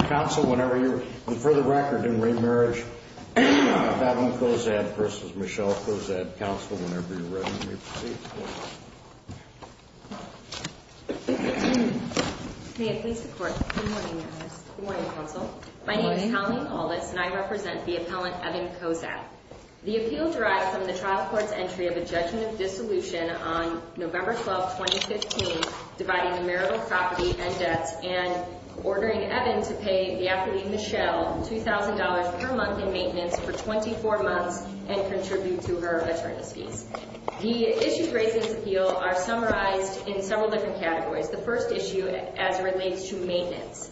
Council, whenever you're ready. For the record, in re Marriage of Evan Cozadd vs. Michelle Cozadd. Council, whenever you're ready, please. May it please the Court. Good morning, Your Honor. Good morning, Council. My name is Colleen Aldis, and I represent the appellant, Evan Cozadd. The appeal derives from the trial court's entry of a judgment of dissolution on November 12, 2015, dividing the marital property and debts, and ordering Evan to pay the applicant, Michelle, $2,000 per month in maintenance for 24 months and contribute to her attorney's fees. The issues raised in this appeal are summarized in several different categories. The first issue, as it relates to maintenance,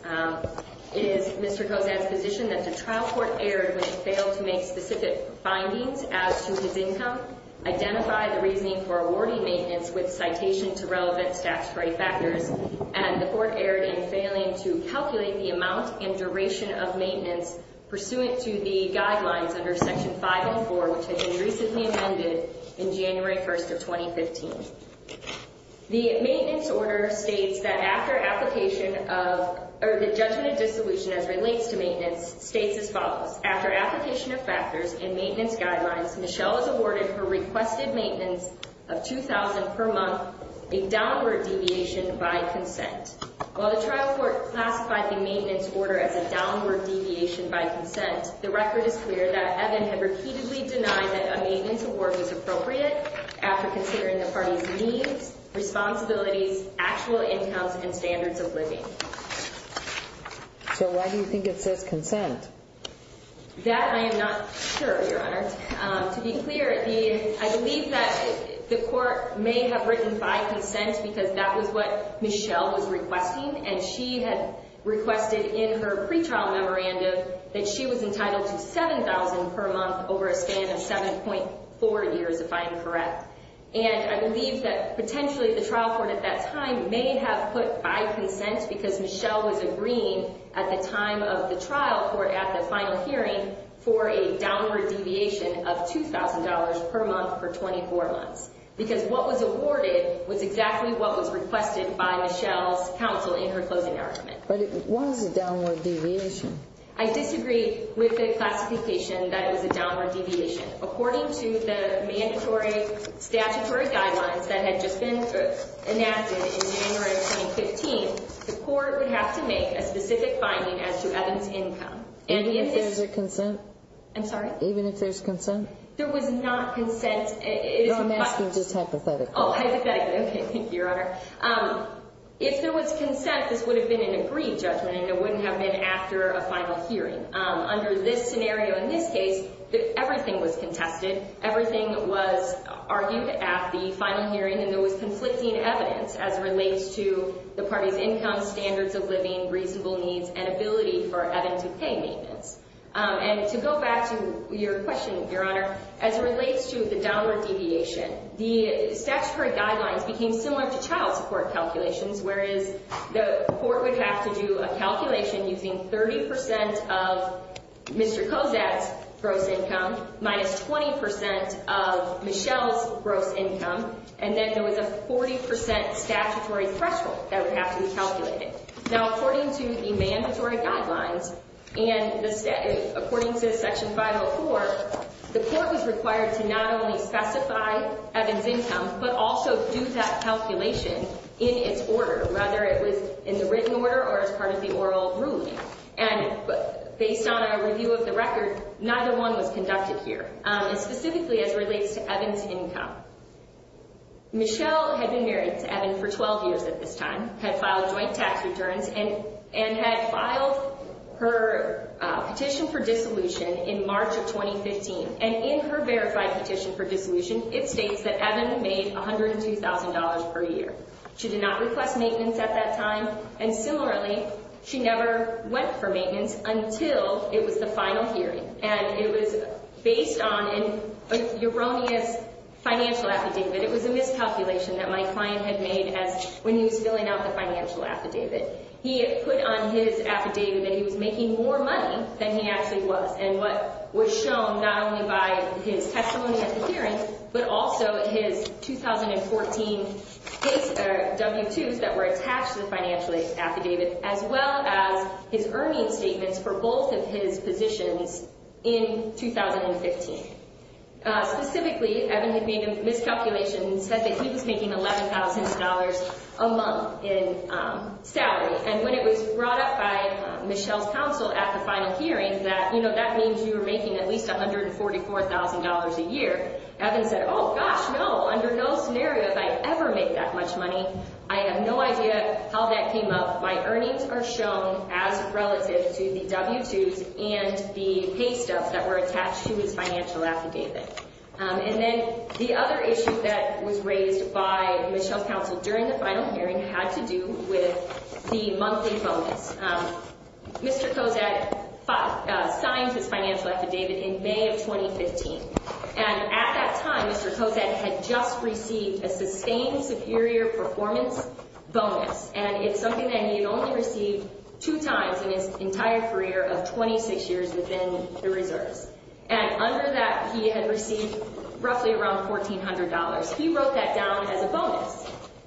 is Mr. Cozadd's position that the trial court erred when it failed to make specific findings as to his income, identify the reasoning for awarding maintenance with citation to relevant statutory factors, and the court erred in failing to calculate the amount and duration of maintenance pursuant to the guidelines under Section 504, which had been recently amended in January 1st of 2015. The maintenance order states that after application of, or the judgment of dissolution as it relates to maintenance, states as follows. After application of factors and maintenance guidelines, Michelle is awarded her requested maintenance of $2,000 per month, a downward deviation by consent. While the trial court classified the maintenance order as a downward deviation by consent, the record is clear that Evan had repeatedly denied that a maintenance award was appropriate after considering the party's needs, responsibilities, actual incomes, and standards of living. So why do you think it says consent? That I am not sure, Your Honor. To be clear, I believe that the court may have written by consent because that was what Michelle was requesting, and she had requested in her pretrial memorandum that she was entitled to $7,000 per month over a span of 7.4 years, if I am correct. And I believe that potentially the trial court at that time may have put by consent because Michelle was agreeing at the time of the trial court at the final hearing for a downward deviation of $2,000 per month for 24 months. Because what was awarded was exactly what was requested by Michelle's counsel in her closing argument. But it was a downward deviation. I disagree with the classification that it was a downward deviation. According to the mandatory statutory guidelines that had just been enacted in January of 2015, the court would have to make a specific finding as to Evan's income. Even if there's a consent? I'm sorry? Even if there's consent? There was not consent. No, I'm asking just hypothetically. Oh, hypothetically. Okay, thank you, Your Honor. If there was consent, this would have been an agreed judgment, and it wouldn't have been after a final hearing. Under this scenario, in this case, everything was contested. Everything was argued at the final hearing, and there was conflicting evidence as it relates to the party's income, standards of living, reasonable needs, and ability for Evan to pay maintenance. And to go back to your question, Your Honor, as it relates to the downward deviation, the statutory guidelines became similar to child support calculations, whereas the court would have to do a calculation using 30% of Mr. Kozak's gross income minus 20% of Michelle's gross income, and then there was a 40% statutory threshold that would have to be calculated. Now, according to the mandatory guidelines and the statute, according to Section 504, the court was required to not only specify Evan's income but also do that calculation in its order, whether it was in the written order or as part of the oral ruling. And based on our review of the record, neither one was conducted here. And specifically as it relates to Evan's income, Michelle had been married to Evan for 12 years at this time, had filed joint tax returns, and had filed her petition for dissolution in March of 2015. And in her verified petition for dissolution, it states that Evan made $102,000 per year. She did not request maintenance at that time, and similarly, she never went for maintenance until it was the final hearing. And it was based on an erroneous financial affidavit. It was a miscalculation that my client had made as when he was filling out the financial affidavit. He had put on his affidavit that he was making more money than he actually was, and what was shown not only by his testimony at the hearing but also his 2014 W-2s that were attached to the financial affidavit, as well as his earning statements for both of his positions in 2015. Specifically, Evan had made a miscalculation and said that he was making $11,000 a month in salary. And when it was brought up by Michelle's counsel at the final hearing that, you know, that means you were making at least $144,000 a year, Evan said, oh, gosh, no, under no scenario have I ever made that much money. I have no idea how that came up. My earnings are shown as relative to the W-2s and the paystubs that were attached to his financial affidavit. And then the other issue that was raised by Michelle's counsel during the final hearing had to do with the monthly bonus. Mr. Kozak signed his financial affidavit in May of 2015. And at that time, Mr. Kozak had just received a sustained superior performance bonus. And it's something that he had only received two times in his entire career of 26 years within the reserves. And under that, he had received roughly around $1,400. He wrote that down as a bonus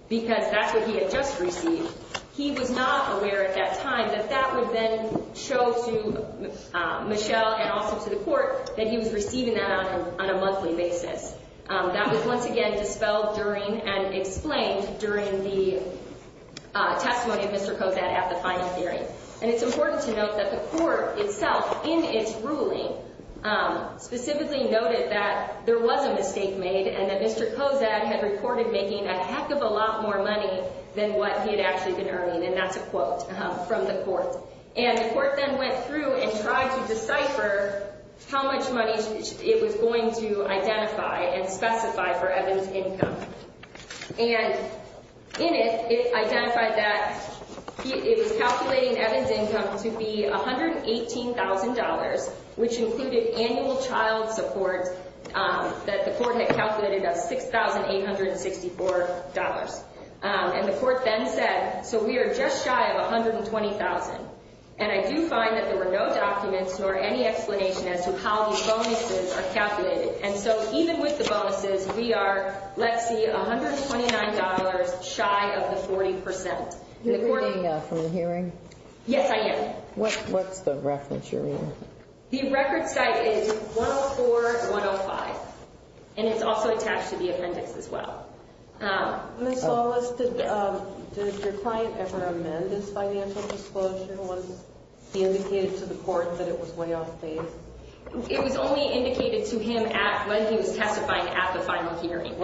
because that's what he had just received. He was not aware at that time that that would then show to Michelle and also to the court that he was receiving that on a monthly basis. That was once again dispelled during and explained during the testimony of Mr. Kozak at the final hearing. And it's important to note that the court itself in its ruling specifically noted that there was a mistake made and that Mr. Kozak had reported making a heck of a lot more money than what he had actually been earning. And that's a quote from the court. And the court then went through and tried to decipher how much money it was going to identify and specify for Evan's income. And in it, it identified that it was calculating Evan's income to be $118,000, which included annual child support that the court had calculated of $6,864. And the court then said, so we are just shy of $120,000. And I do find that there were no documents or any explanation as to how these bonuses are calculated. And so even with the bonuses, we are, let's see, $129 shy of the 40%. Are you reading from the hearing? Yes, I am. What's the reference you're reading? The record site is 104-105. And it's also attached to the appendix as well. Ms. Lawless, did your client ever amend his financial disclosure once he indicated to the court that it was way off base? It was only indicated to him when he was testifying at the final hearing.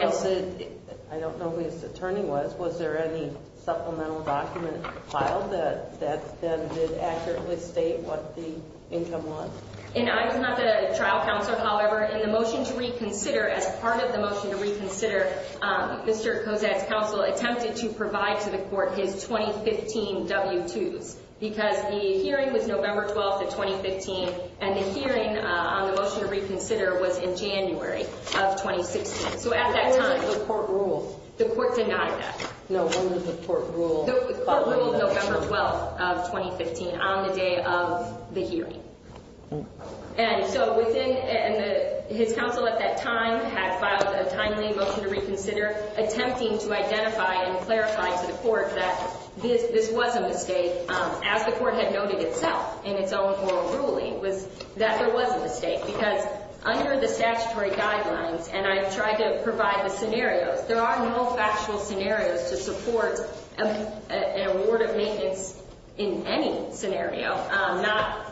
I don't know who his attorney was. Ms. Lawless, was there any supplemental document filed that did accurately state what the income was? I was not the trial counselor, however. In the motion to reconsider, as part of the motion to reconsider, Mr. Kozak's counsel attempted to provide to the court his 2015 W-2s because the hearing was November 12th of 2015, and the hearing on the motion to reconsider was in January of 2016. So at that time the court ruled. The court denied that. No, when did the court rule? The court ruled November 12th of 2015 on the day of the hearing. And so within his counsel at that time had filed a timely motion to reconsider, attempting to identify and clarify to the court that this was a mistake, as the court had noted itself in its own oral ruling was that there was a mistake. Because under the statutory guidelines, and I've tried to provide the scenarios, there are no factual scenarios to support an award of maintenance in any scenario,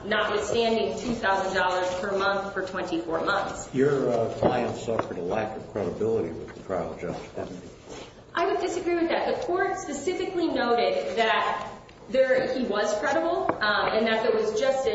notwithstanding $2,000 per month for 24 months. Your client suffered a lack of credibility with the trial judge. I would disagree with that. The court specifically noted that he was credible, and that there was just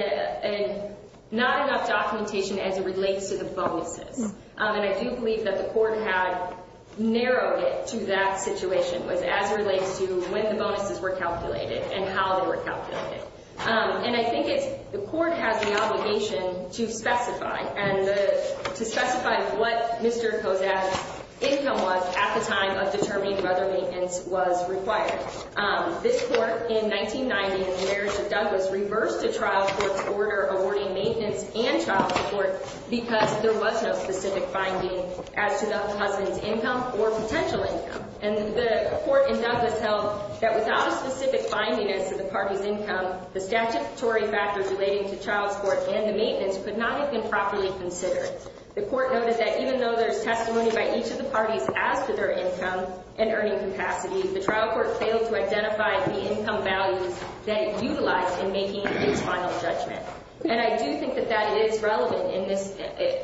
not enough documentation as it relates to the bonuses. And I do believe that the court had narrowed it to that situation, was as it relates to when the bonuses were calculated and how they were calculated. And I think the court has the obligation to specify, and to specify what Mr. Kozak's income was at the time of determining whether maintenance was required. This court in 1990, in the marriage of Douglas, reversed the trial court's order awarding maintenance and child support because there was no specific finding as to the husband's income or potential income. And the court in Douglas held that without a specific finding as to the party's income, the statutory factors relating to child support and the maintenance could not have been properly considered. The court noted that even though there's testimony by each of the parties as to their income and earning capacity, the trial court failed to identify the income values that it utilized in making its final judgment. And I do think that that is relevant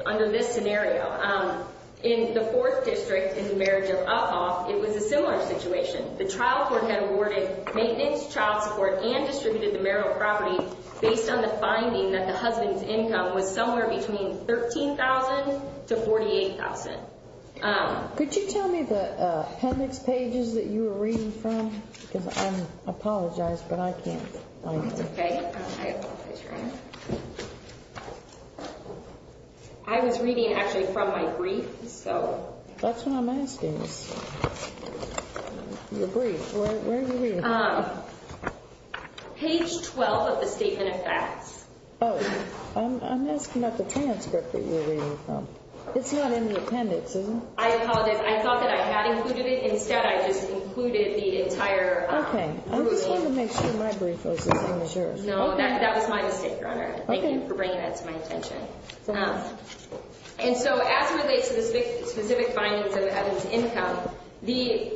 under this scenario. In the fourth district, in the marriage of Uphoff, it was a similar situation. The trial court had awarded maintenance, child support, and distributed the marital property based on the finding that the husband's income was somewhere between $13,000 to $48,000. Could you tell me the appendix pages that you were reading from? Because I apologize, but I can't find them. That's okay. I apologize. I was reading actually from my brief, so. That's what I'm asking is your brief. Where are you reading from? Page 12 of the statement of facts. Oh, I'm asking about the transcript that you're reading from. It's not in the appendix, is it? I apologize. I thought that I had included it. Instead, I just included the entire briefing. Okay. I just wanted to make sure my brief was the same as yours. No, that was my mistake, Your Honor. Thank you for bringing that to my attention. It's enough. And so as it relates to the specific findings of the husband's income, the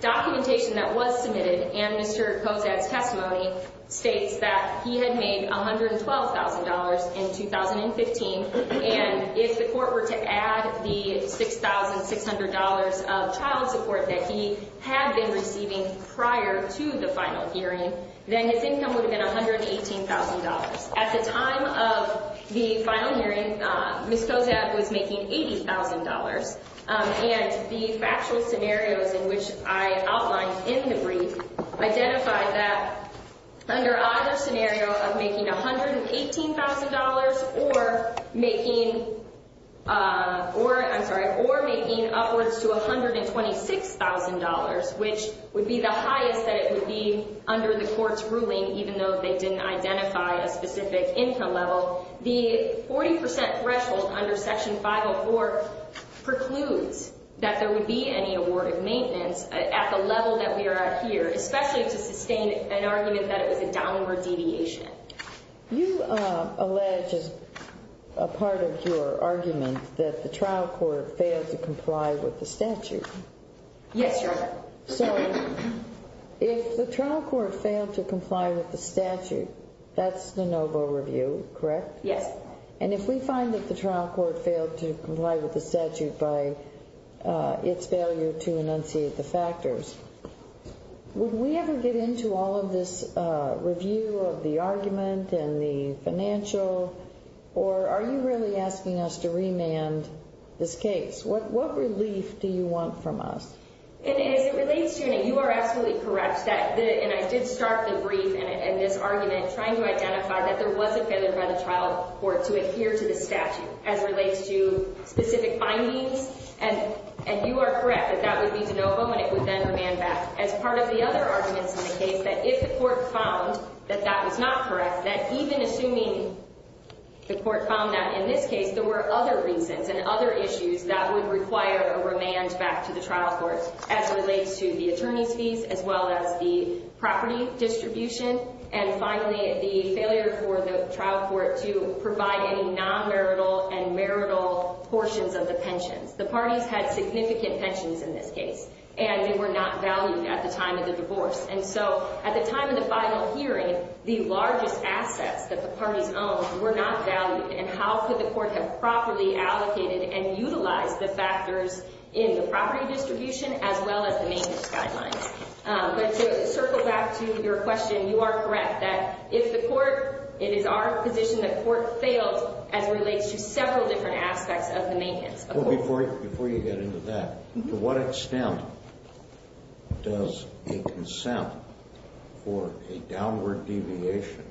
documentation that was submitted and Mr. Kozad's testimony states that he had made $112,000 in 2015, and if the court were to add the $6,600 of child support that he had been receiving prior to the final hearing, then his income would have been $118,000. At the time of the final hearing, Ms. Kozad was making $80,000, and the factual scenarios in which I outlined in the brief identified that under either scenario of making $118,000 or making upwards to $126,000, which would be the highest that it would be under the court's ruling, even though they didn't identify a specific income level, the 40% threshold under Section 504 precludes that there would be any award of maintenance at the level that we are at here, especially to sustain an argument that it was a downward deviation. You allege, as a part of your argument, that the trial court failed to comply with the statute. Yes, Your Honor. So, if the trial court failed to comply with the statute, that's de novo review, correct? Yes. And if we find that the trial court failed to comply with the statute by its failure to enunciate the factors, would we ever get into all of this review of the argument and the financial, or are you really asking us to remand this case? What relief do you want from us? And as it relates to, and you are absolutely correct, and I did start the brief and this argument trying to identify that there was a failure by the trial court to adhere to the statute as it relates to specific findings, and you are correct that that would be de novo and it would then remand back. As part of the other arguments in the case, that if the court found that that was not correct, that even assuming the court found that in this case, there were other reasons and other issues that would require a remand back to the trial court as it relates to the attorney's fees as well as the property distribution, and finally, the failure for the trial court to provide any non-marital and marital portions of the pensions. The parties had significant pensions in this case, and they were not valued at the time of the divorce. And so at the time of the final hearing, the largest assets that the parties owned were not valued, and how could the court have properly allocated and utilized the factors in the property distribution as well as the maintenance guidelines? But to circle back to your question, you are correct that if the court, it is our position that court failed as it relates to several different aspects of the maintenance. Well, before you get into that, to what extent does a consent for a downward deviation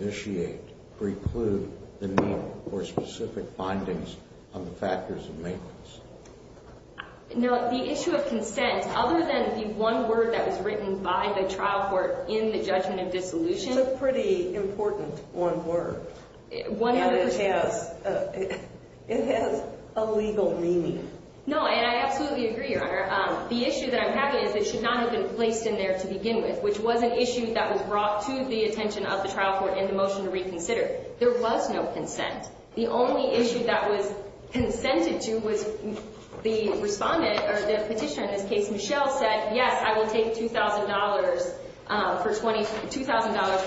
initiate, preclude the need for specific findings on the factors of maintenance? You know, the issue of consent, other than the one word that was written by the trial court in the judgment of dissolution. It's a pretty important one word. It has a legal meaning. No, and I absolutely agree, Your Honor. The issue that I'm having is it should not have been placed in there to begin with, which was an issue that was brought to the attention of the trial court in the motion to reconsider. There was no consent. The only issue that was consented to was the respondent, or the petitioner in this case, Michelle, said, yes, I will take $2,000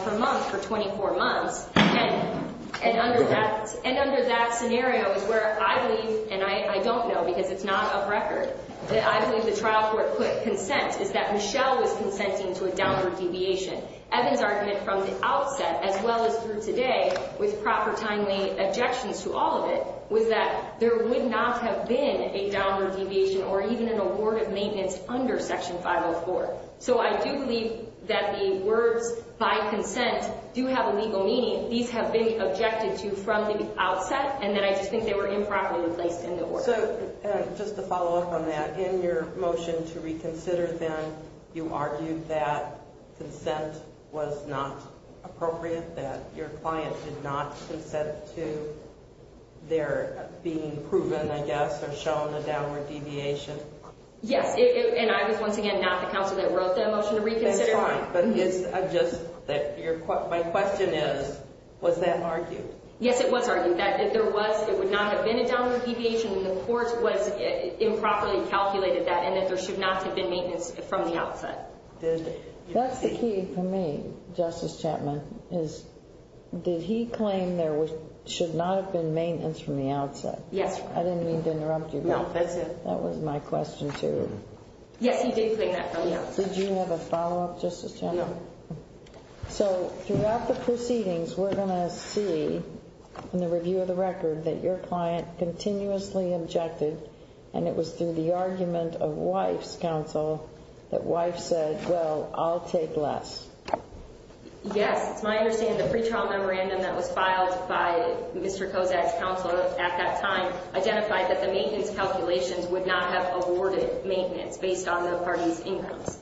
per month for 24 months. And under that scenario is where I believe, and I don't know because it's not off record, that I believe the trial court put consent is that Michelle was consenting to a downward deviation. Evan's argument from the outset, as well as through today, with proper timely objections to all of it, was that there would not have been a downward deviation or even an award of maintenance under Section 504. So I do believe that the words, by consent, do have a legal meaning. These have been objected to from the outset, and then I just think they were improperly placed in the order. So, just to follow up on that, in your motion to reconsider, then, you argued that consent was not appropriate, that your client did not consent to their being proven, I guess, or shown a downward deviation. Yes. And I was, once again, not the counsel that wrote that motion to reconsider. That's fine. But my question is, was that argued? Yes, it was argued. That there would not have been a downward deviation, and the court was improperly calculated that, and that there should not have been maintenance from the outset. That's the key for me, Justice Chapman, is, did he claim there should not have been maintenance from the outset? Yes. I didn't mean to interrupt you. No, that's it. That was my question, too. Yes, he did claim that from the outset. Did you have a follow-up, Justice Chapman? No. So, throughout the proceedings, we're going to see, in the review of the record, that your client continuously objected, and it was through the argument of Wife's counsel that Wife said, well, I'll take less. Yes. It's my understanding the pretrial memorandum that was filed by Mr. Kozak's counsel at that time identified that the maintenance calculations would not have awarded maintenance based on the parties' incomes.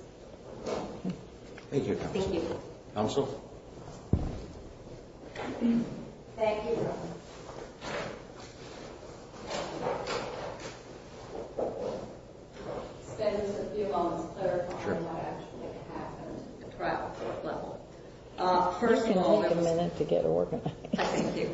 Thank you, counsel. Thank you. Counsel? Thank you. Spend just a few moments clarifying what actually happened at the trial court level. First of all, there was- You can take a minute to get organized. Thank you.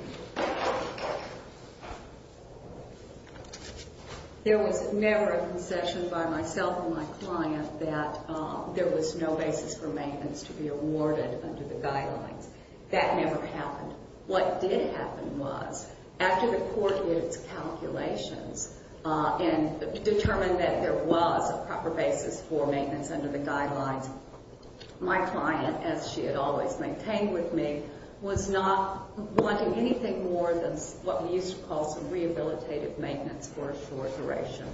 There was never a concession by myself and my client that there was no basis for maintenance to be awarded under the guidelines. That never happened. What did happen was, after the court did its calculations and determined that there was a proper basis for maintenance under the guidelines, my client, as she had always maintained with me, was not wanting anything more than what we used to call some rehabilitative maintenance for a short duration.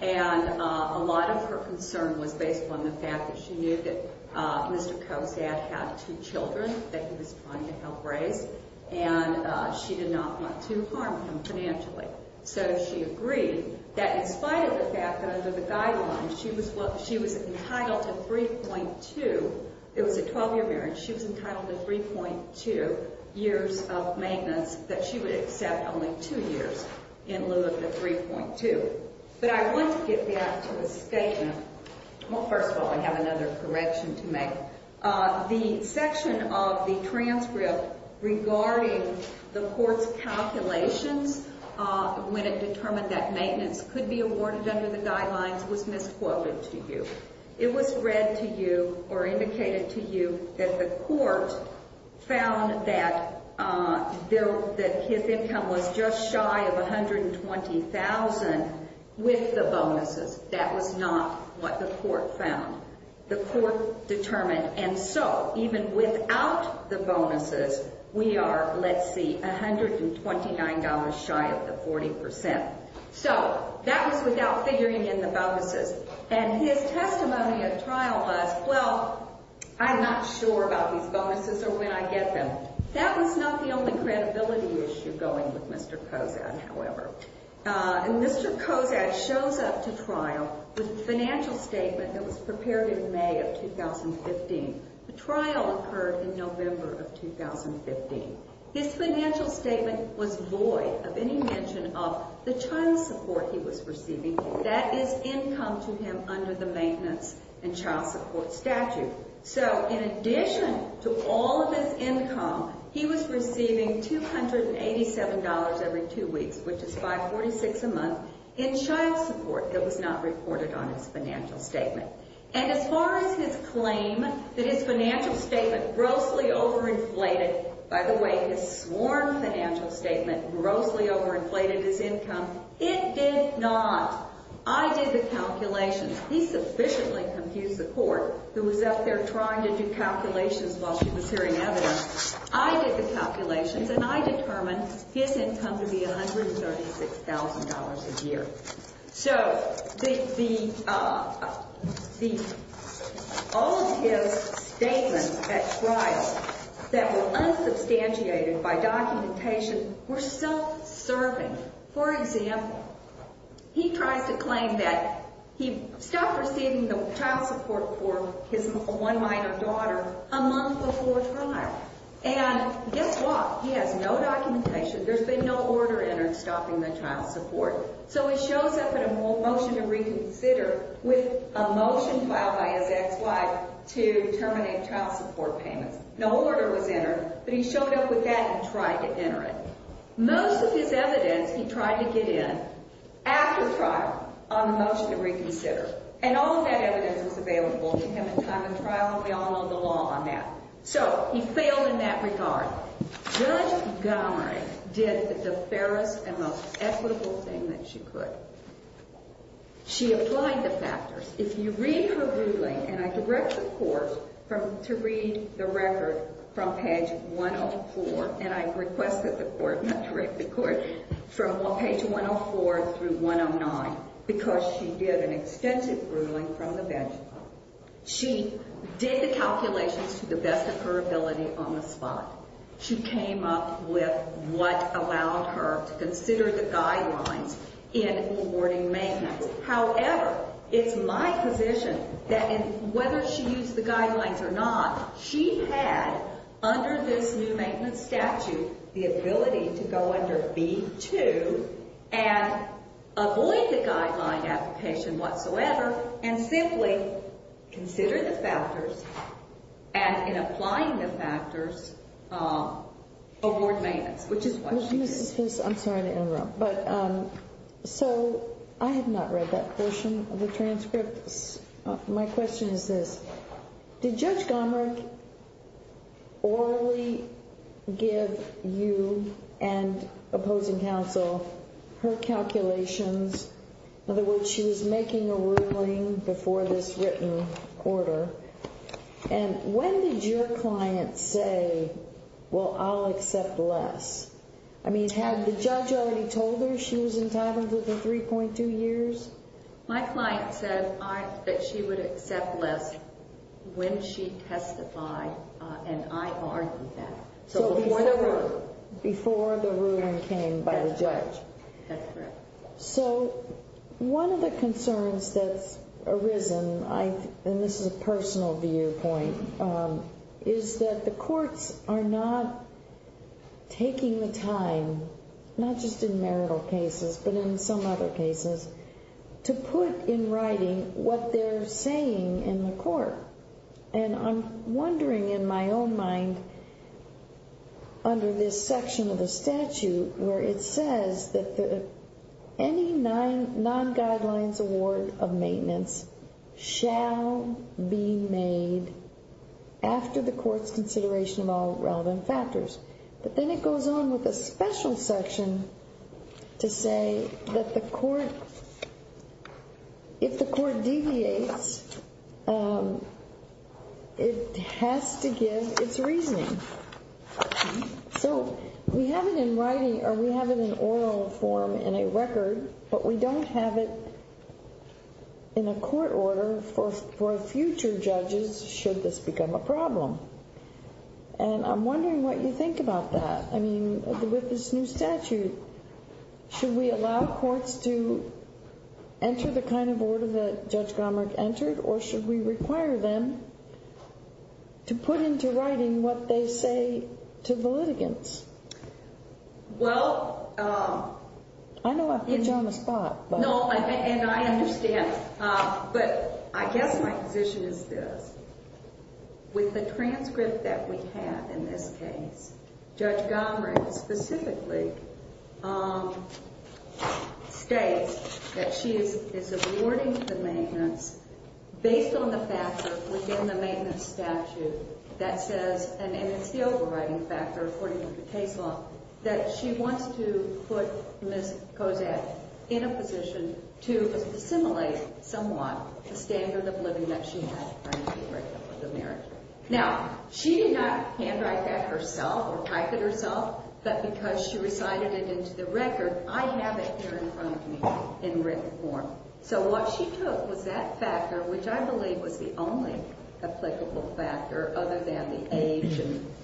And a lot of her concern was based on the fact that she knew that Mr. Kozak had two children that he was trying to help raise, and she did not want to harm him financially. So she agreed that in spite of the fact that under the guidelines she was entitled to 3.2- It was a 12-year marriage. She was entitled to 3.2 years of maintenance that she would accept only two years in lieu of the 3.2. But I want to get back to the statement. Well, first of all, I have another correction to make. The section of the transcript regarding the court's calculations when it determined that maintenance could be awarded under the guidelines was misquoted to you. It was read to you or indicated to you that the court found that his income was just shy of $120,000 with the bonuses. That was not what the court found. The court determined, and so even without the bonuses, we are, let's see, $129 shy of the 40%. So that was without figuring in the bonuses. And his testimony at trial was, well, I'm not sure about these bonuses or when I get them. That was not the only credibility issue going with Mr. Kozak, however. And Mr. Kozak shows up to trial with a financial statement that was prepared in May of 2015. The trial occurred in November of 2015. His financial statement was void of any mention of the child support he was receiving. That is income to him under the maintenance and child support statute. So in addition to all of his income, he was receiving $287 every two weeks, which is $5.46 a month in child support. It was not reported on his financial statement. And as far as his claim that his financial statement grossly overinflated, by the way, his sworn financial statement grossly overinflated his income, it did not. I did the calculations. He sufficiently confused the court, who was out there trying to do calculations while she was hearing evidence. I did the calculations, and I determined his income to be $136,000 a year. So all of his statements at trial that were unsubstantiated by documentation were self-serving. For example, he tries to claim that he stopped receiving the child support for his one minor daughter a month before trial. And guess what? He has no documentation. There's been no order entered stopping the child support. So he shows up at a motion to reconsider with a motion filed by his ex-wife to terminate child support payments. No order was entered, but he showed up with that and tried to enter it. Most of his evidence he tried to get in after trial on a motion to reconsider. And all of that evidence was available to him in time of trial, and we all know the law on that. So he failed in that regard. Judge Gomery did the fairest and most equitable thing that she could. She applied the factors. If you read her ruling, and I direct the court to read the record from page 104, and I request that the court not direct the court, from page 104 through 109, because she did an extensive ruling from the bench. She did the calculations to the best of her ability on the spot. She came up with what allowed her to consider the guidelines in awarding maintenance. However, it's my position that whether she used the guidelines or not, she had, under this new maintenance statute, the ability to go under B-2 and avoid the guideline application whatsoever and simply consider the factors and, in applying the factors, award maintenance, which is what she did. I'm sorry to interrupt, but so I have not read that portion of the transcript. My question is this. Did Judge Gomery orally give you and opposing counsel her calculations? In other words, she was making a ruling before this written order. And when did your client say, well, I'll accept less? I mean, had the judge already told her she was entitled to the 3.2 years? My client said that she would accept less when she testified, and I argued that. So before the ruling. Before the ruling came by the judge. That's correct. So one of the concerns that's arisen, and this is a personal viewpoint, is that the courts are not taking the time, not just in marital cases, but in some other cases, to put in writing what they're saying in the court. And I'm wondering, in my own mind, under this section of the statute, where it says that any non-guidelines award of maintenance shall be made after the court's consideration of all relevant factors. But then it goes on with a special section to say that if the court deviates, it has to give its reasoning. So we have it in writing, or we have it in oral form in a record, but we don't have it in a court order for future judges should this become a problem. And I'm wondering what you think about that. I mean, with this new statute, should we allow courts to enter the kind of order that Judge Gomrig entered, or should we require them to put into writing what they say to the litigants? Well, I know I've put you on the spot. No, and I understand, but I guess my position is this. With the transcript that we have in this case, Judge Gomrig specifically states that she is awarding the maintenance based on the factor within the maintenance statute that says, and it's the overriding factor according to the case law, that she wants to put Ms. Kozak in a position to assimilate somewhat the standard of living that she had prior to the breakup of the marriage. Now, she did not handwrite that herself or type it herself, but because she recited it into the record, I have it here in front of me in written form. So what she took was that factor, which I believe was the only applicable factor other than the age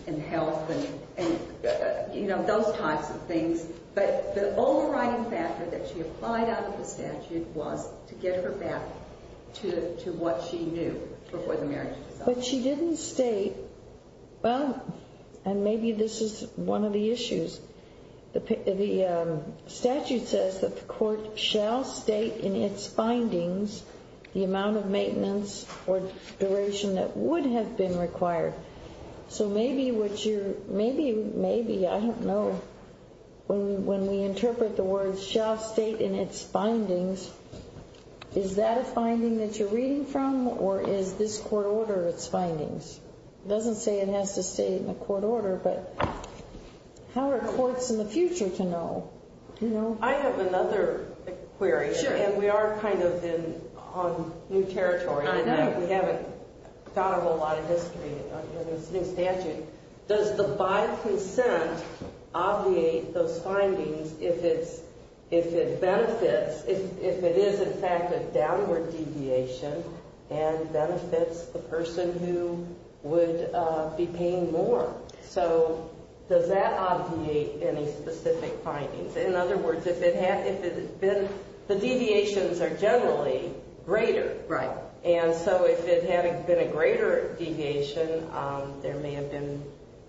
and health and those types of things, but the overriding factor that she applied out of the statute was to get her back to what she knew before the marriage. But she didn't state, well, and maybe this is one of the issues, the statute says that the court shall state in its findings the amount of maintenance or duration that would have been required. So maybe what you're, maybe, maybe, I don't know, when we interpret the words, the court shall state in its findings, is that a finding that you're reading from or is this court order its findings? It doesn't say it has to state in a court order, but how are courts in the future to know? I have another query, and we are kind of on new territory. I know. We haven't thought of a lot of history in this new statute. Does the by-consent obviate those findings if it benefits, if it is in fact a downward deviation and benefits the person who would be paying more? So does that obviate any specific findings? In other words, if it had, if it had been, the deviations are generally greater. Right. And so if it had been a greater deviation, there may have been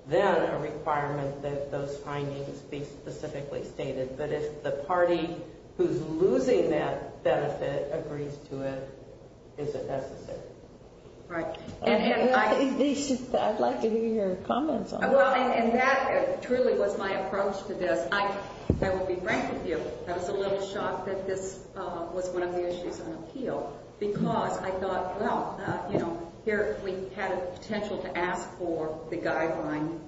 then a requirement that those findings be specifically stated. But if the party who's losing that benefit agrees to it, is it necessary? Right. I'd like to hear your comments on that. Well, and that truly was my approach to this. I will be frank with you. I was a little shocked that this was one of the issues on appeal because I thought, well, you know, here we had a potential to ask for the guideline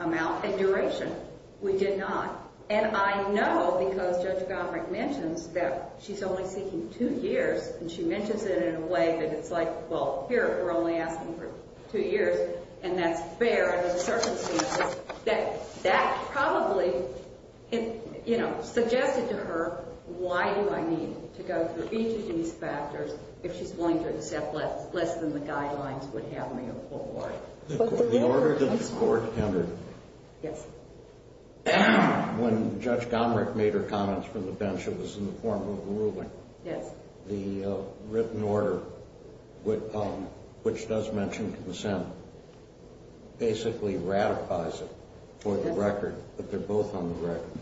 amount and duration. We did not. And I know because Judge Gottfried mentions that she's only seeking two years, and she mentions it in a way that it's like, well, here we're only asking for two years, and that's fair under the circumstances, that that probably, you know, suggested to her, why do I need to go through each of these factors if she's willing to accept less than the guidelines would have me afford? The order to the court, Kendra. Yes. When Judge Gomrich made her comments from the bench, it was in the form of a ruling. Yes. The written order, which does mention consent, basically ratifies it for the record, but they're both on the record.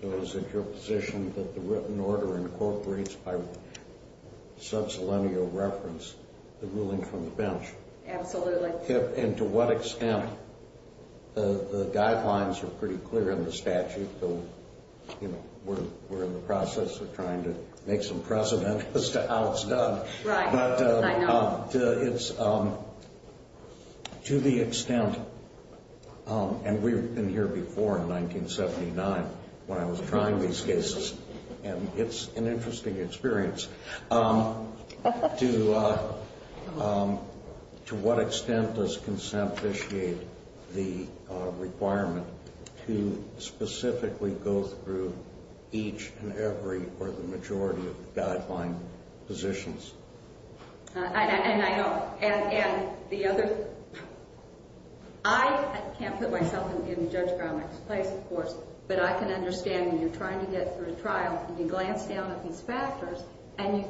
So is it your position that the written order incorporates by subselenial reference the ruling from the bench? Absolutely. And to what extent? The guidelines are pretty clear in the statute, so, you know, we're in the process of trying to make some precedent as to how it's done. Right. I know. But it's to the extent, and we've been here before in 1979 when I was trying these cases, and it's an interesting experience, to what extent does consent initiate the requirement to specifically go through each and every or the majority of the guideline positions? And I know. And the other, I can't put myself in Judge Gomrich's place, of course, but I can understand when you're trying to get through a trial and you glance down at these factors and you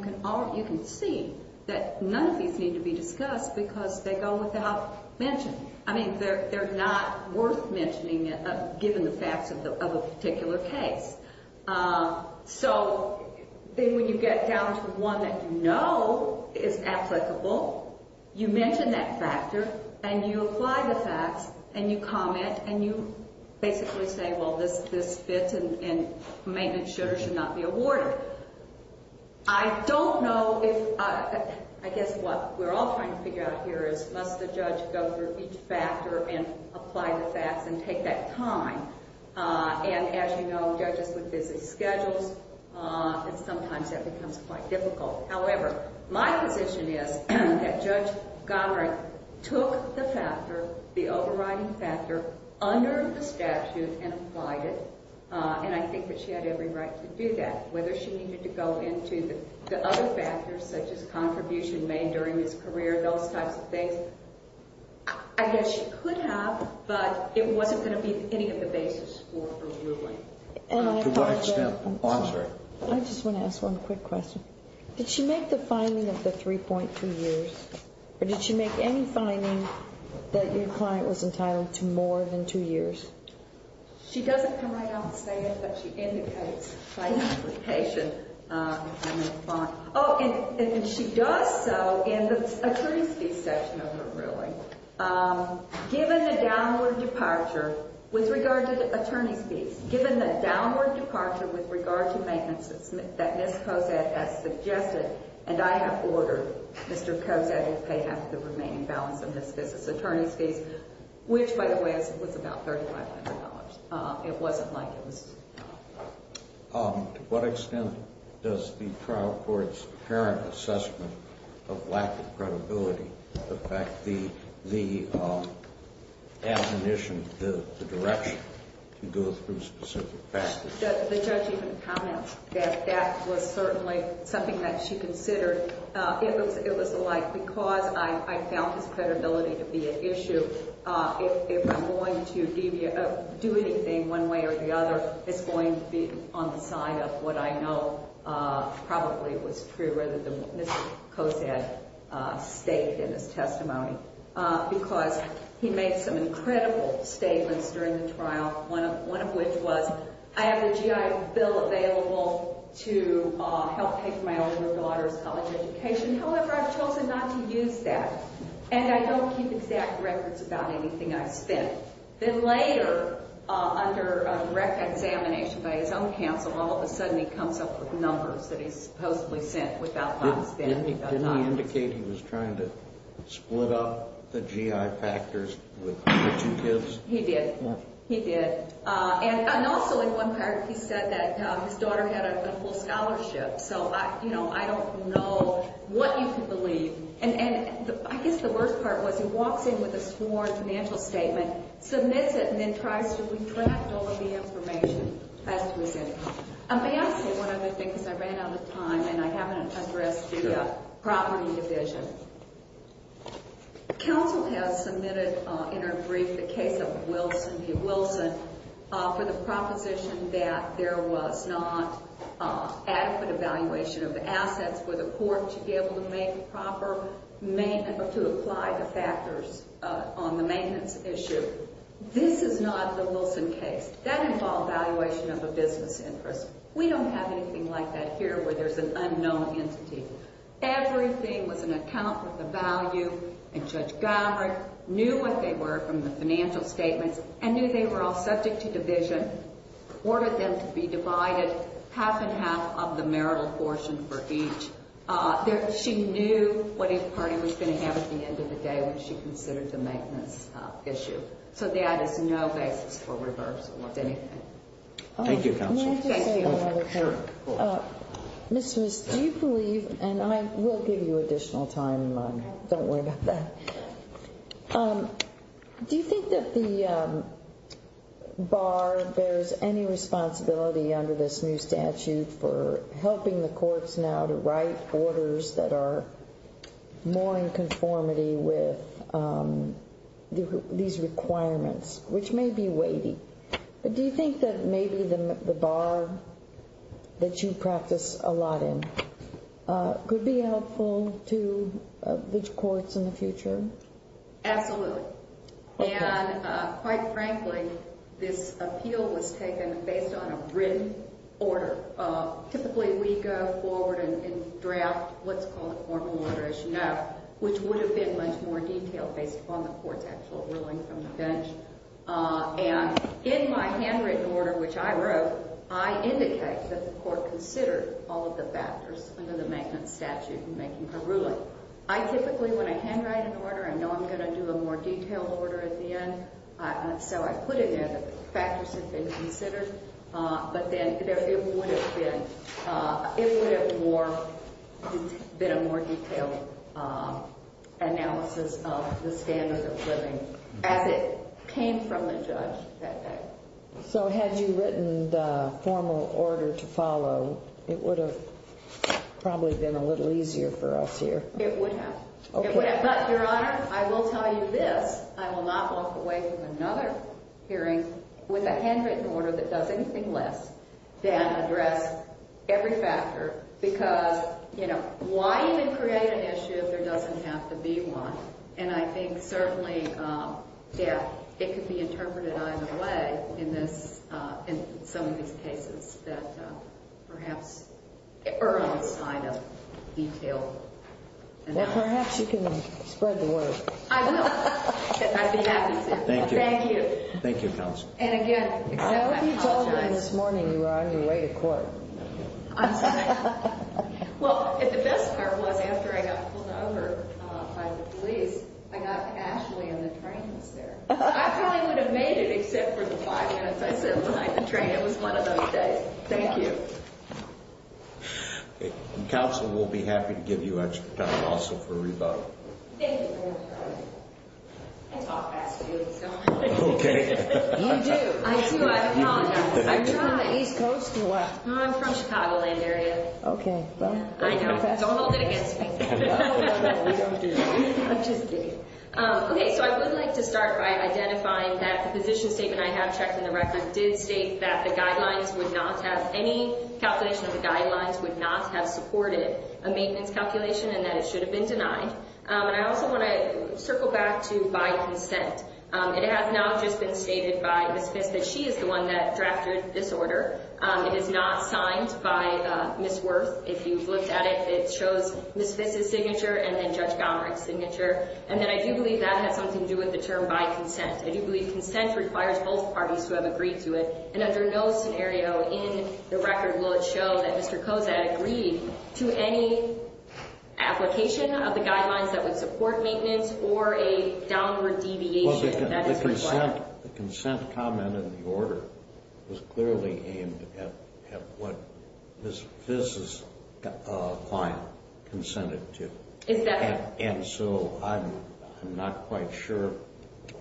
can see that none of these need to be discussed because they go without mention. I mean, they're not worth mentioning given the facts of a particular case. So when you get down to one that you know is applicable, you mention that factor and you apply the facts and you comment and you basically say, well, this fits and maintenance should or should not be awarded. I don't know if I guess what we're all trying to figure out here is must the judge go through each factor and apply the facts and take that time? And as you know, judges would visit schedules, and sometimes that becomes quite difficult. However, my position is that Judge Gomrich took the factor, the overriding factor, under the statute and applied it, and I think that she had every right to do that. Whether she needed to go into the other factors such as contribution made during his career, those types of things, I guess she could have, but it wasn't going to be any of the basis for approving. To what extent? I'm sorry. I just want to ask one quick question. Did she make the finding of the 3.2 years, or did she make any finding that your client was entitled to more than two years? She doesn't come right out and say it, but she indicates by implication. Oh, and she does so in the attorney's fees section of her ruling. Given the downward departure with regard to the attorney's fees, given the downward departure with regard to maintenance that Ms. Cosette has suggested, and I have ordered Mr. Cosette to pay half of the remaining balance of Ms. Fiske's attorney's fees, which, by the way, was about $3,500. It wasn't like it was. To what extent does the trial court's apparent assessment of lack of credibility affect the admonition, the direction to go through specific facts? The judge even commented that that was certainly something that she considered. It was like, because I found his credibility to be an issue, if I'm going to do anything one way or the other, it's going to be on the side of what I know probably was true, rather than what Ms. Cosette stated in his testimony, because he made some incredible statements during the trial, one of which was, I have a GI bill available to help pay for my older daughter's college education. However, I've chosen not to use that, and I don't keep exact records about anything I've spent. Then later, under direct examination by his own counsel, all of a sudden he comes up with numbers that he supposedly sent without my understanding. Didn't he indicate he was trying to split up the GI factors with the two kids? He did. He did. And also, in one paragraph, he said that his daughter had a full scholarship, so I don't know what you can believe. And I guess the worst part was he walks in with a sworn financial statement, submits it, and then tries to retract all of the information as to his income. May I say one other thing, because I ran out of time, and I haven't addressed the property division. Counsel has submitted, in our brief, the case of Wilson v. Wilson, for the proposition that there was not adequate evaluation of assets for the court to be able to make proper or to apply the factors on the maintenance issue. This is not the Wilson case. That involved evaluation of a business interest. We don't have anything like that here where there's an unknown entity. Everything was an account of the value, and Judge Gowrig knew what they were from the financial statements and knew they were all subject to division, ordered them to be divided, half and half of the marital portion for each. She knew what a party was going to have at the end of the day when she considered the maintenance issue. So that is no basis for reversal of anything. Thank you, Counsel. May I just say one other thing? Ms. Smith, do you believe, and I will give you additional time, don't worry about that. Do you think that the bar bears any responsibility under this new statute for helping the courts now to write orders that are more in conformity with these requirements, which may be weighty? Do you think that maybe the bar that you practice a lot in could be helpful to the courts in the future? Absolutely. And quite frankly, this appeal was taken based on a written order. Typically, we go forward and draft what's called a formal order, as you know, which would have been much more detailed based upon the court's actual ruling from the bench. And in my handwritten order, which I wrote, I indicate that the court considered all of the factors under the maintenance statute in making the ruling. So I typically, when I handwrite an order, I know I'm going to do a more detailed order at the end. So I put in there the factors that have been considered. But then it would have been a more detailed analysis of the standards of living as it came from the judge that day. So had you written the formal order to follow, it would have probably been a little easier for us here. It would have. But, Your Honor, I will tell you this. I will not walk away from another hearing with a handwritten order that does anything less than address every factor. Because, you know, why even create an issue if there doesn't have to be one? And I think certainly, yeah, it could be interpreted either way in some of these cases that perhaps early sign of detail. Well, perhaps you can spread the word. I will. I'd be happy to. Thank you. Thank you. Thank you, Counsel. And again, I apologize. I hope you told her this morning you were on your way to court. I'm sorry. Well, the best part was after I got pulled over by the police, I got to Ashley and the train was there. I probably would have made it except for the five minutes I sat behind the train. It was one of those days. Thank you. Counsel, we'll be happy to give you extra time also for rebuttal. Thank you, Your Honor. I talk fast too, so. Okay. You do. I do. I apologize. Are you from the East Coast or what? I'm from Chicagoland area. Okay. I know. Don't hold it against me. We don't do that. I'm just kidding. Okay. So I would like to start by identifying that the position statement I have checked in the record did state that the guidelines would not have, any calculation of the guidelines would not have supported a maintenance calculation and that it should have been denied. And I also want to circle back to by consent. It has not just been stated by Ms. Pitts that she is the one that drafted this order. It is not signed by Ms. Wirth. If you've looked at it, it shows Ms. Pitts' signature and then Judge Gomerick's signature. And then I do believe that has something to do with the term by consent. I do believe consent requires both parties to have agreed to it. And under no scenario in the record will it show that Mr. Koza had agreed to any application of the guidelines that would support maintenance or a downward deviation that is required. The consent comment in the order was clearly aimed at what Ms. Pitts' client consented to. And so I'm not quite sure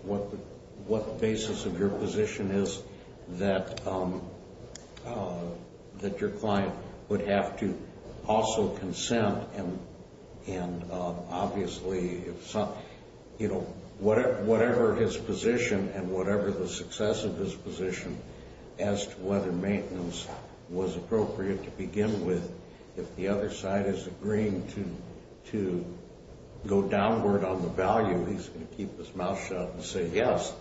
what the basis of your position is that your client would have to also consent. And obviously, you know, whatever his position and whatever the success of his position as to whether maintenance was appropriate to begin with, if the other side is agreeing to go downward on the value, he's going to keep his mouth shut and say yes.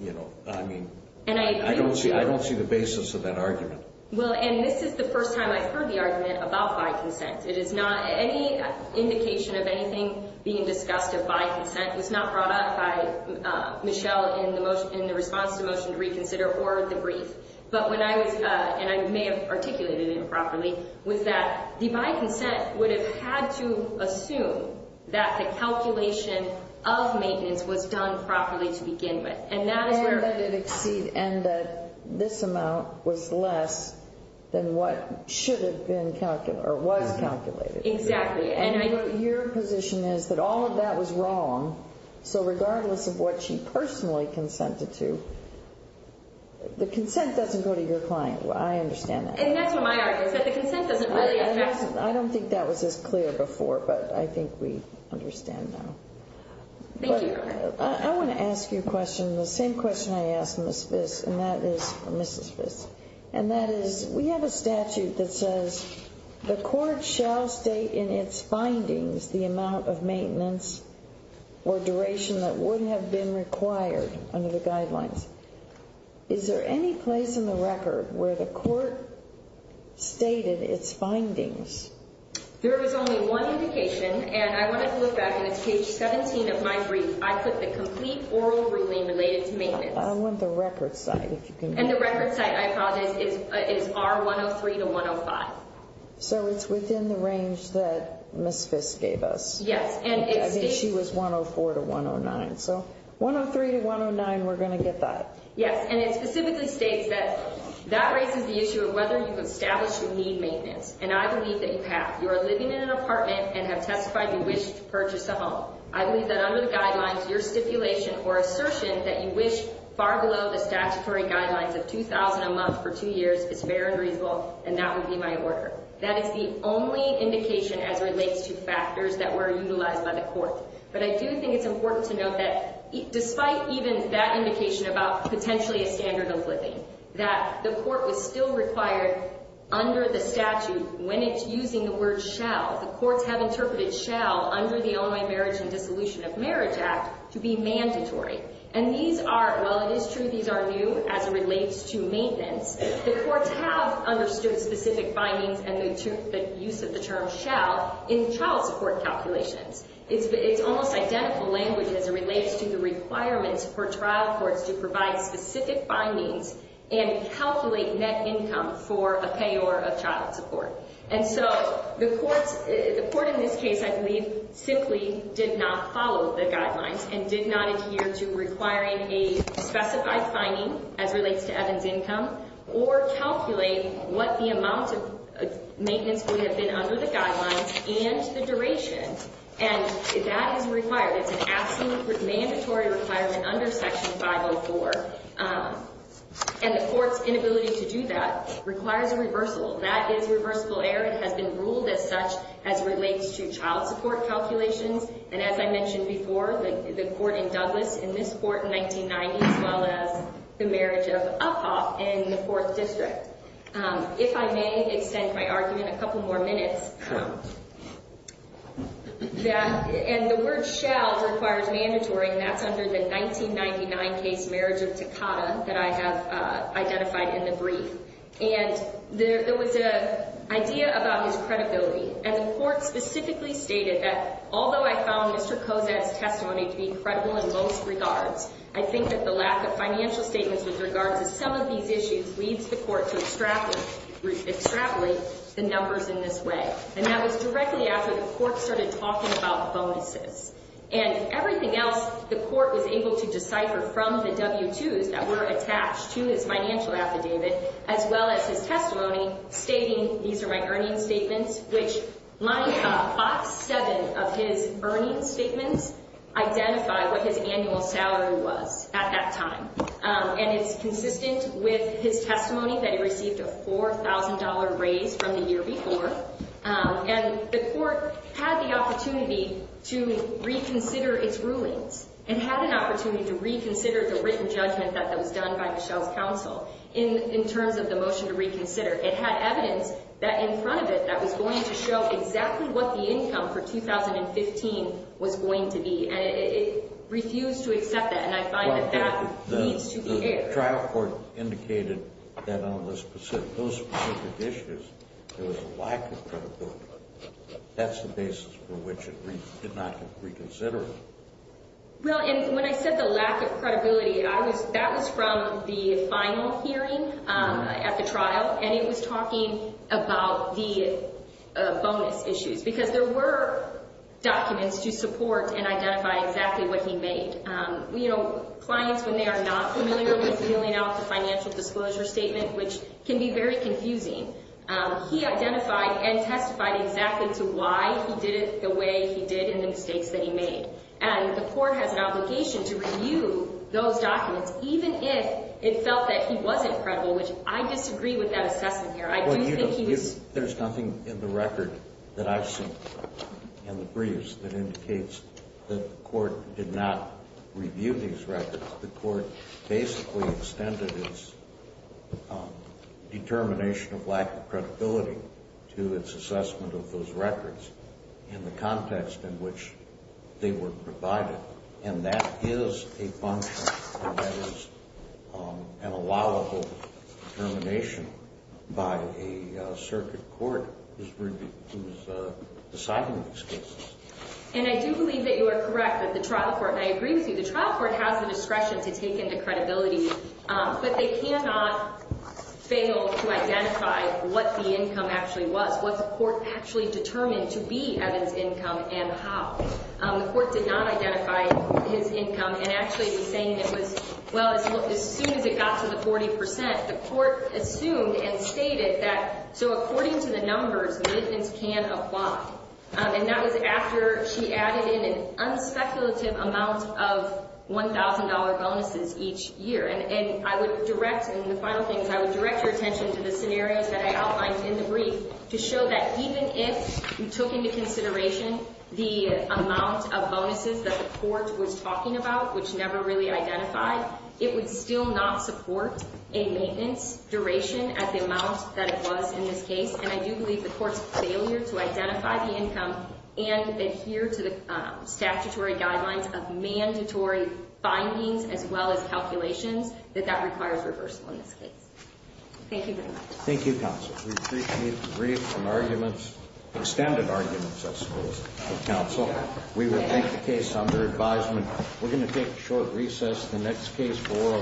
You know, I mean, I don't see the basis of that argument. Well, and this is the first time I've heard the argument about by consent. It is not any indication of anything being discussed of by consent. It was not brought up by Michelle in the response to Motion to Reconsider or the brief. But when I was, and I may have articulated it improperly, was that the by consent would have had to assume that the calculation of maintenance was done properly to begin with. And that this amount was less than what should have been calculated or was calculated. Exactly. And your position is that all of that was wrong. So regardless of what she personally consented to, the consent doesn't go to your client. I understand that. And that's what my argument is, that the consent doesn't really affect. I don't think that was as clear before, but I think we understand now. Thank you. I want to ask you a question, the same question I asked Ms. Viss, and that is, or Mrs. Viss. And that is, we have a statute that says the court shall state in its findings the amount of maintenance or duration that would have been required under the guidelines. Is there any place in the record where the court stated its findings? There is only one indication, and I wanted to look back, and it's page 17 of my brief. I put the complete oral ruling related to maintenance. I want the record site, if you can. And the record site, I apologize, is R103 to 105. So it's within the range that Ms. Viss gave us. Yes. I mean, she was 104 to 109. So 103 to 109, we're going to get that. Yes. And it specifically states that that raises the issue of whether you've established you need maintenance. And I believe that you have. You are living in an apartment and have testified you wish to purchase a home. I believe that under the guidelines, your stipulation or assertion that you wish far below the statutory guidelines of $2,000 a month for two years is fair and reasonable, and that would be my order. That is the only indication as it relates to factors that were utilized by the court. But I do think it's important to note that despite even that indication about potentially a standard of living, that the court was still required under the statute, when it's using the word shall, the courts have interpreted shall under the Illinois Marriage and Dissolution of Marriage Act to be mandatory. And these are, while it is true these are new as it relates to maintenance, the courts have understood specific findings and the use of the term shall in child support calculations. It's almost identical language as it relates to the requirements for trial courts to provide specific findings and calculate net income for a payor of child support. And so the court in this case, I believe, simply did not follow the guidelines and did not adhere to requiring a specified finding as relates to Evan's income, or calculate what the amount of maintenance would have been under the guidelines and the duration. And that is required. It's an absolute mandatory requirement under Section 504. And the court's inability to do that requires a reversal. That is reversible error. It has been ruled as such as relates to child support calculations. And as I mentioned before, the court in Douglas, in this court in 1990, as well as the marriage of Uphoff in the Fourth District. If I may extend my argument a couple more minutes. And the word shall requires mandatory, and that's under the 1999 case marriage of Takata that I have identified in the brief. And there was an idea about his credibility. And the court specifically stated that although I found Mr. Cosette's testimony to be credible in most regards, I think that the lack of financial statements with regards to some of these issues leads the court to extrapolate the numbers in this way. And that was directly after the court started talking about bonuses. And everything else, the court was able to decipher from the W-2s that were attached to his financial affidavit, as well as his testimony stating these are my earnings statements, which lined up five, seven of his earnings statements identified what his annual salary was at that time. And it's consistent with his testimony that he received a $4,000 raise from the year before. And the court had the opportunity to reconsider its rulings. It had an opportunity to reconsider the written judgment that was done by Michelle's counsel in terms of the motion to reconsider. It had evidence that in front of it that was going to show exactly what the income for 2015 was going to be. And it refused to accept that, and I find that that needs to be aired. That trial court indicated that on those specific issues, there was a lack of credibility. That's the basis for which it did not get reconsidered. Well, and when I said the lack of credibility, that was from the final hearing at the trial, and it was talking about the bonus issues because there were documents to support and identify exactly what he made. You know, clients, when they are not familiar with filling out the financial disclosure statement, which can be very confusing, he identified and testified exactly to why he did it the way he did and the mistakes that he made. And the court has an obligation to review those documents, even if it felt that he wasn't credible, which I disagree with that assessment here. There's nothing in the record that I've seen in the briefs that indicates that the court did not review these records. The court basically extended its determination of lack of credibility to its assessment of those records in the context in which they were provided. And that is a function, and that is an allowable determination by a circuit court who's deciding these cases. And I do believe that you are correct that the trial court, and I agree with you, the trial court has the discretion to take into credibility, but they cannot fail to identify what the income actually was, what the court actually determined to be Evan's income and how. The court did not identify his income and actually was saying it was, well, as soon as it got to the 40 percent, the court assumed and stated that, so according to the numbers, militants can apply. And that was after she added in an unspeculative amount of $1,000 bonuses each year. And I would direct, and the final thing is I would direct your attention to the scenarios that I outlined in the brief to show that even if you took into consideration the amount of bonuses that the court was talking about, which never really identified, it would still not support a maintenance duration at the amount that it was in this case. And I do believe the court's failure to identify the income and adhere to the statutory guidelines of mandatory findings as well as calculations, that that requires reversal in this case. Thank you very much. Thank you, counsel. We appreciate the brief and arguments, extended arguments, I suppose, from counsel. We will take the case under advisement. We're going to take a short recess. The next case for…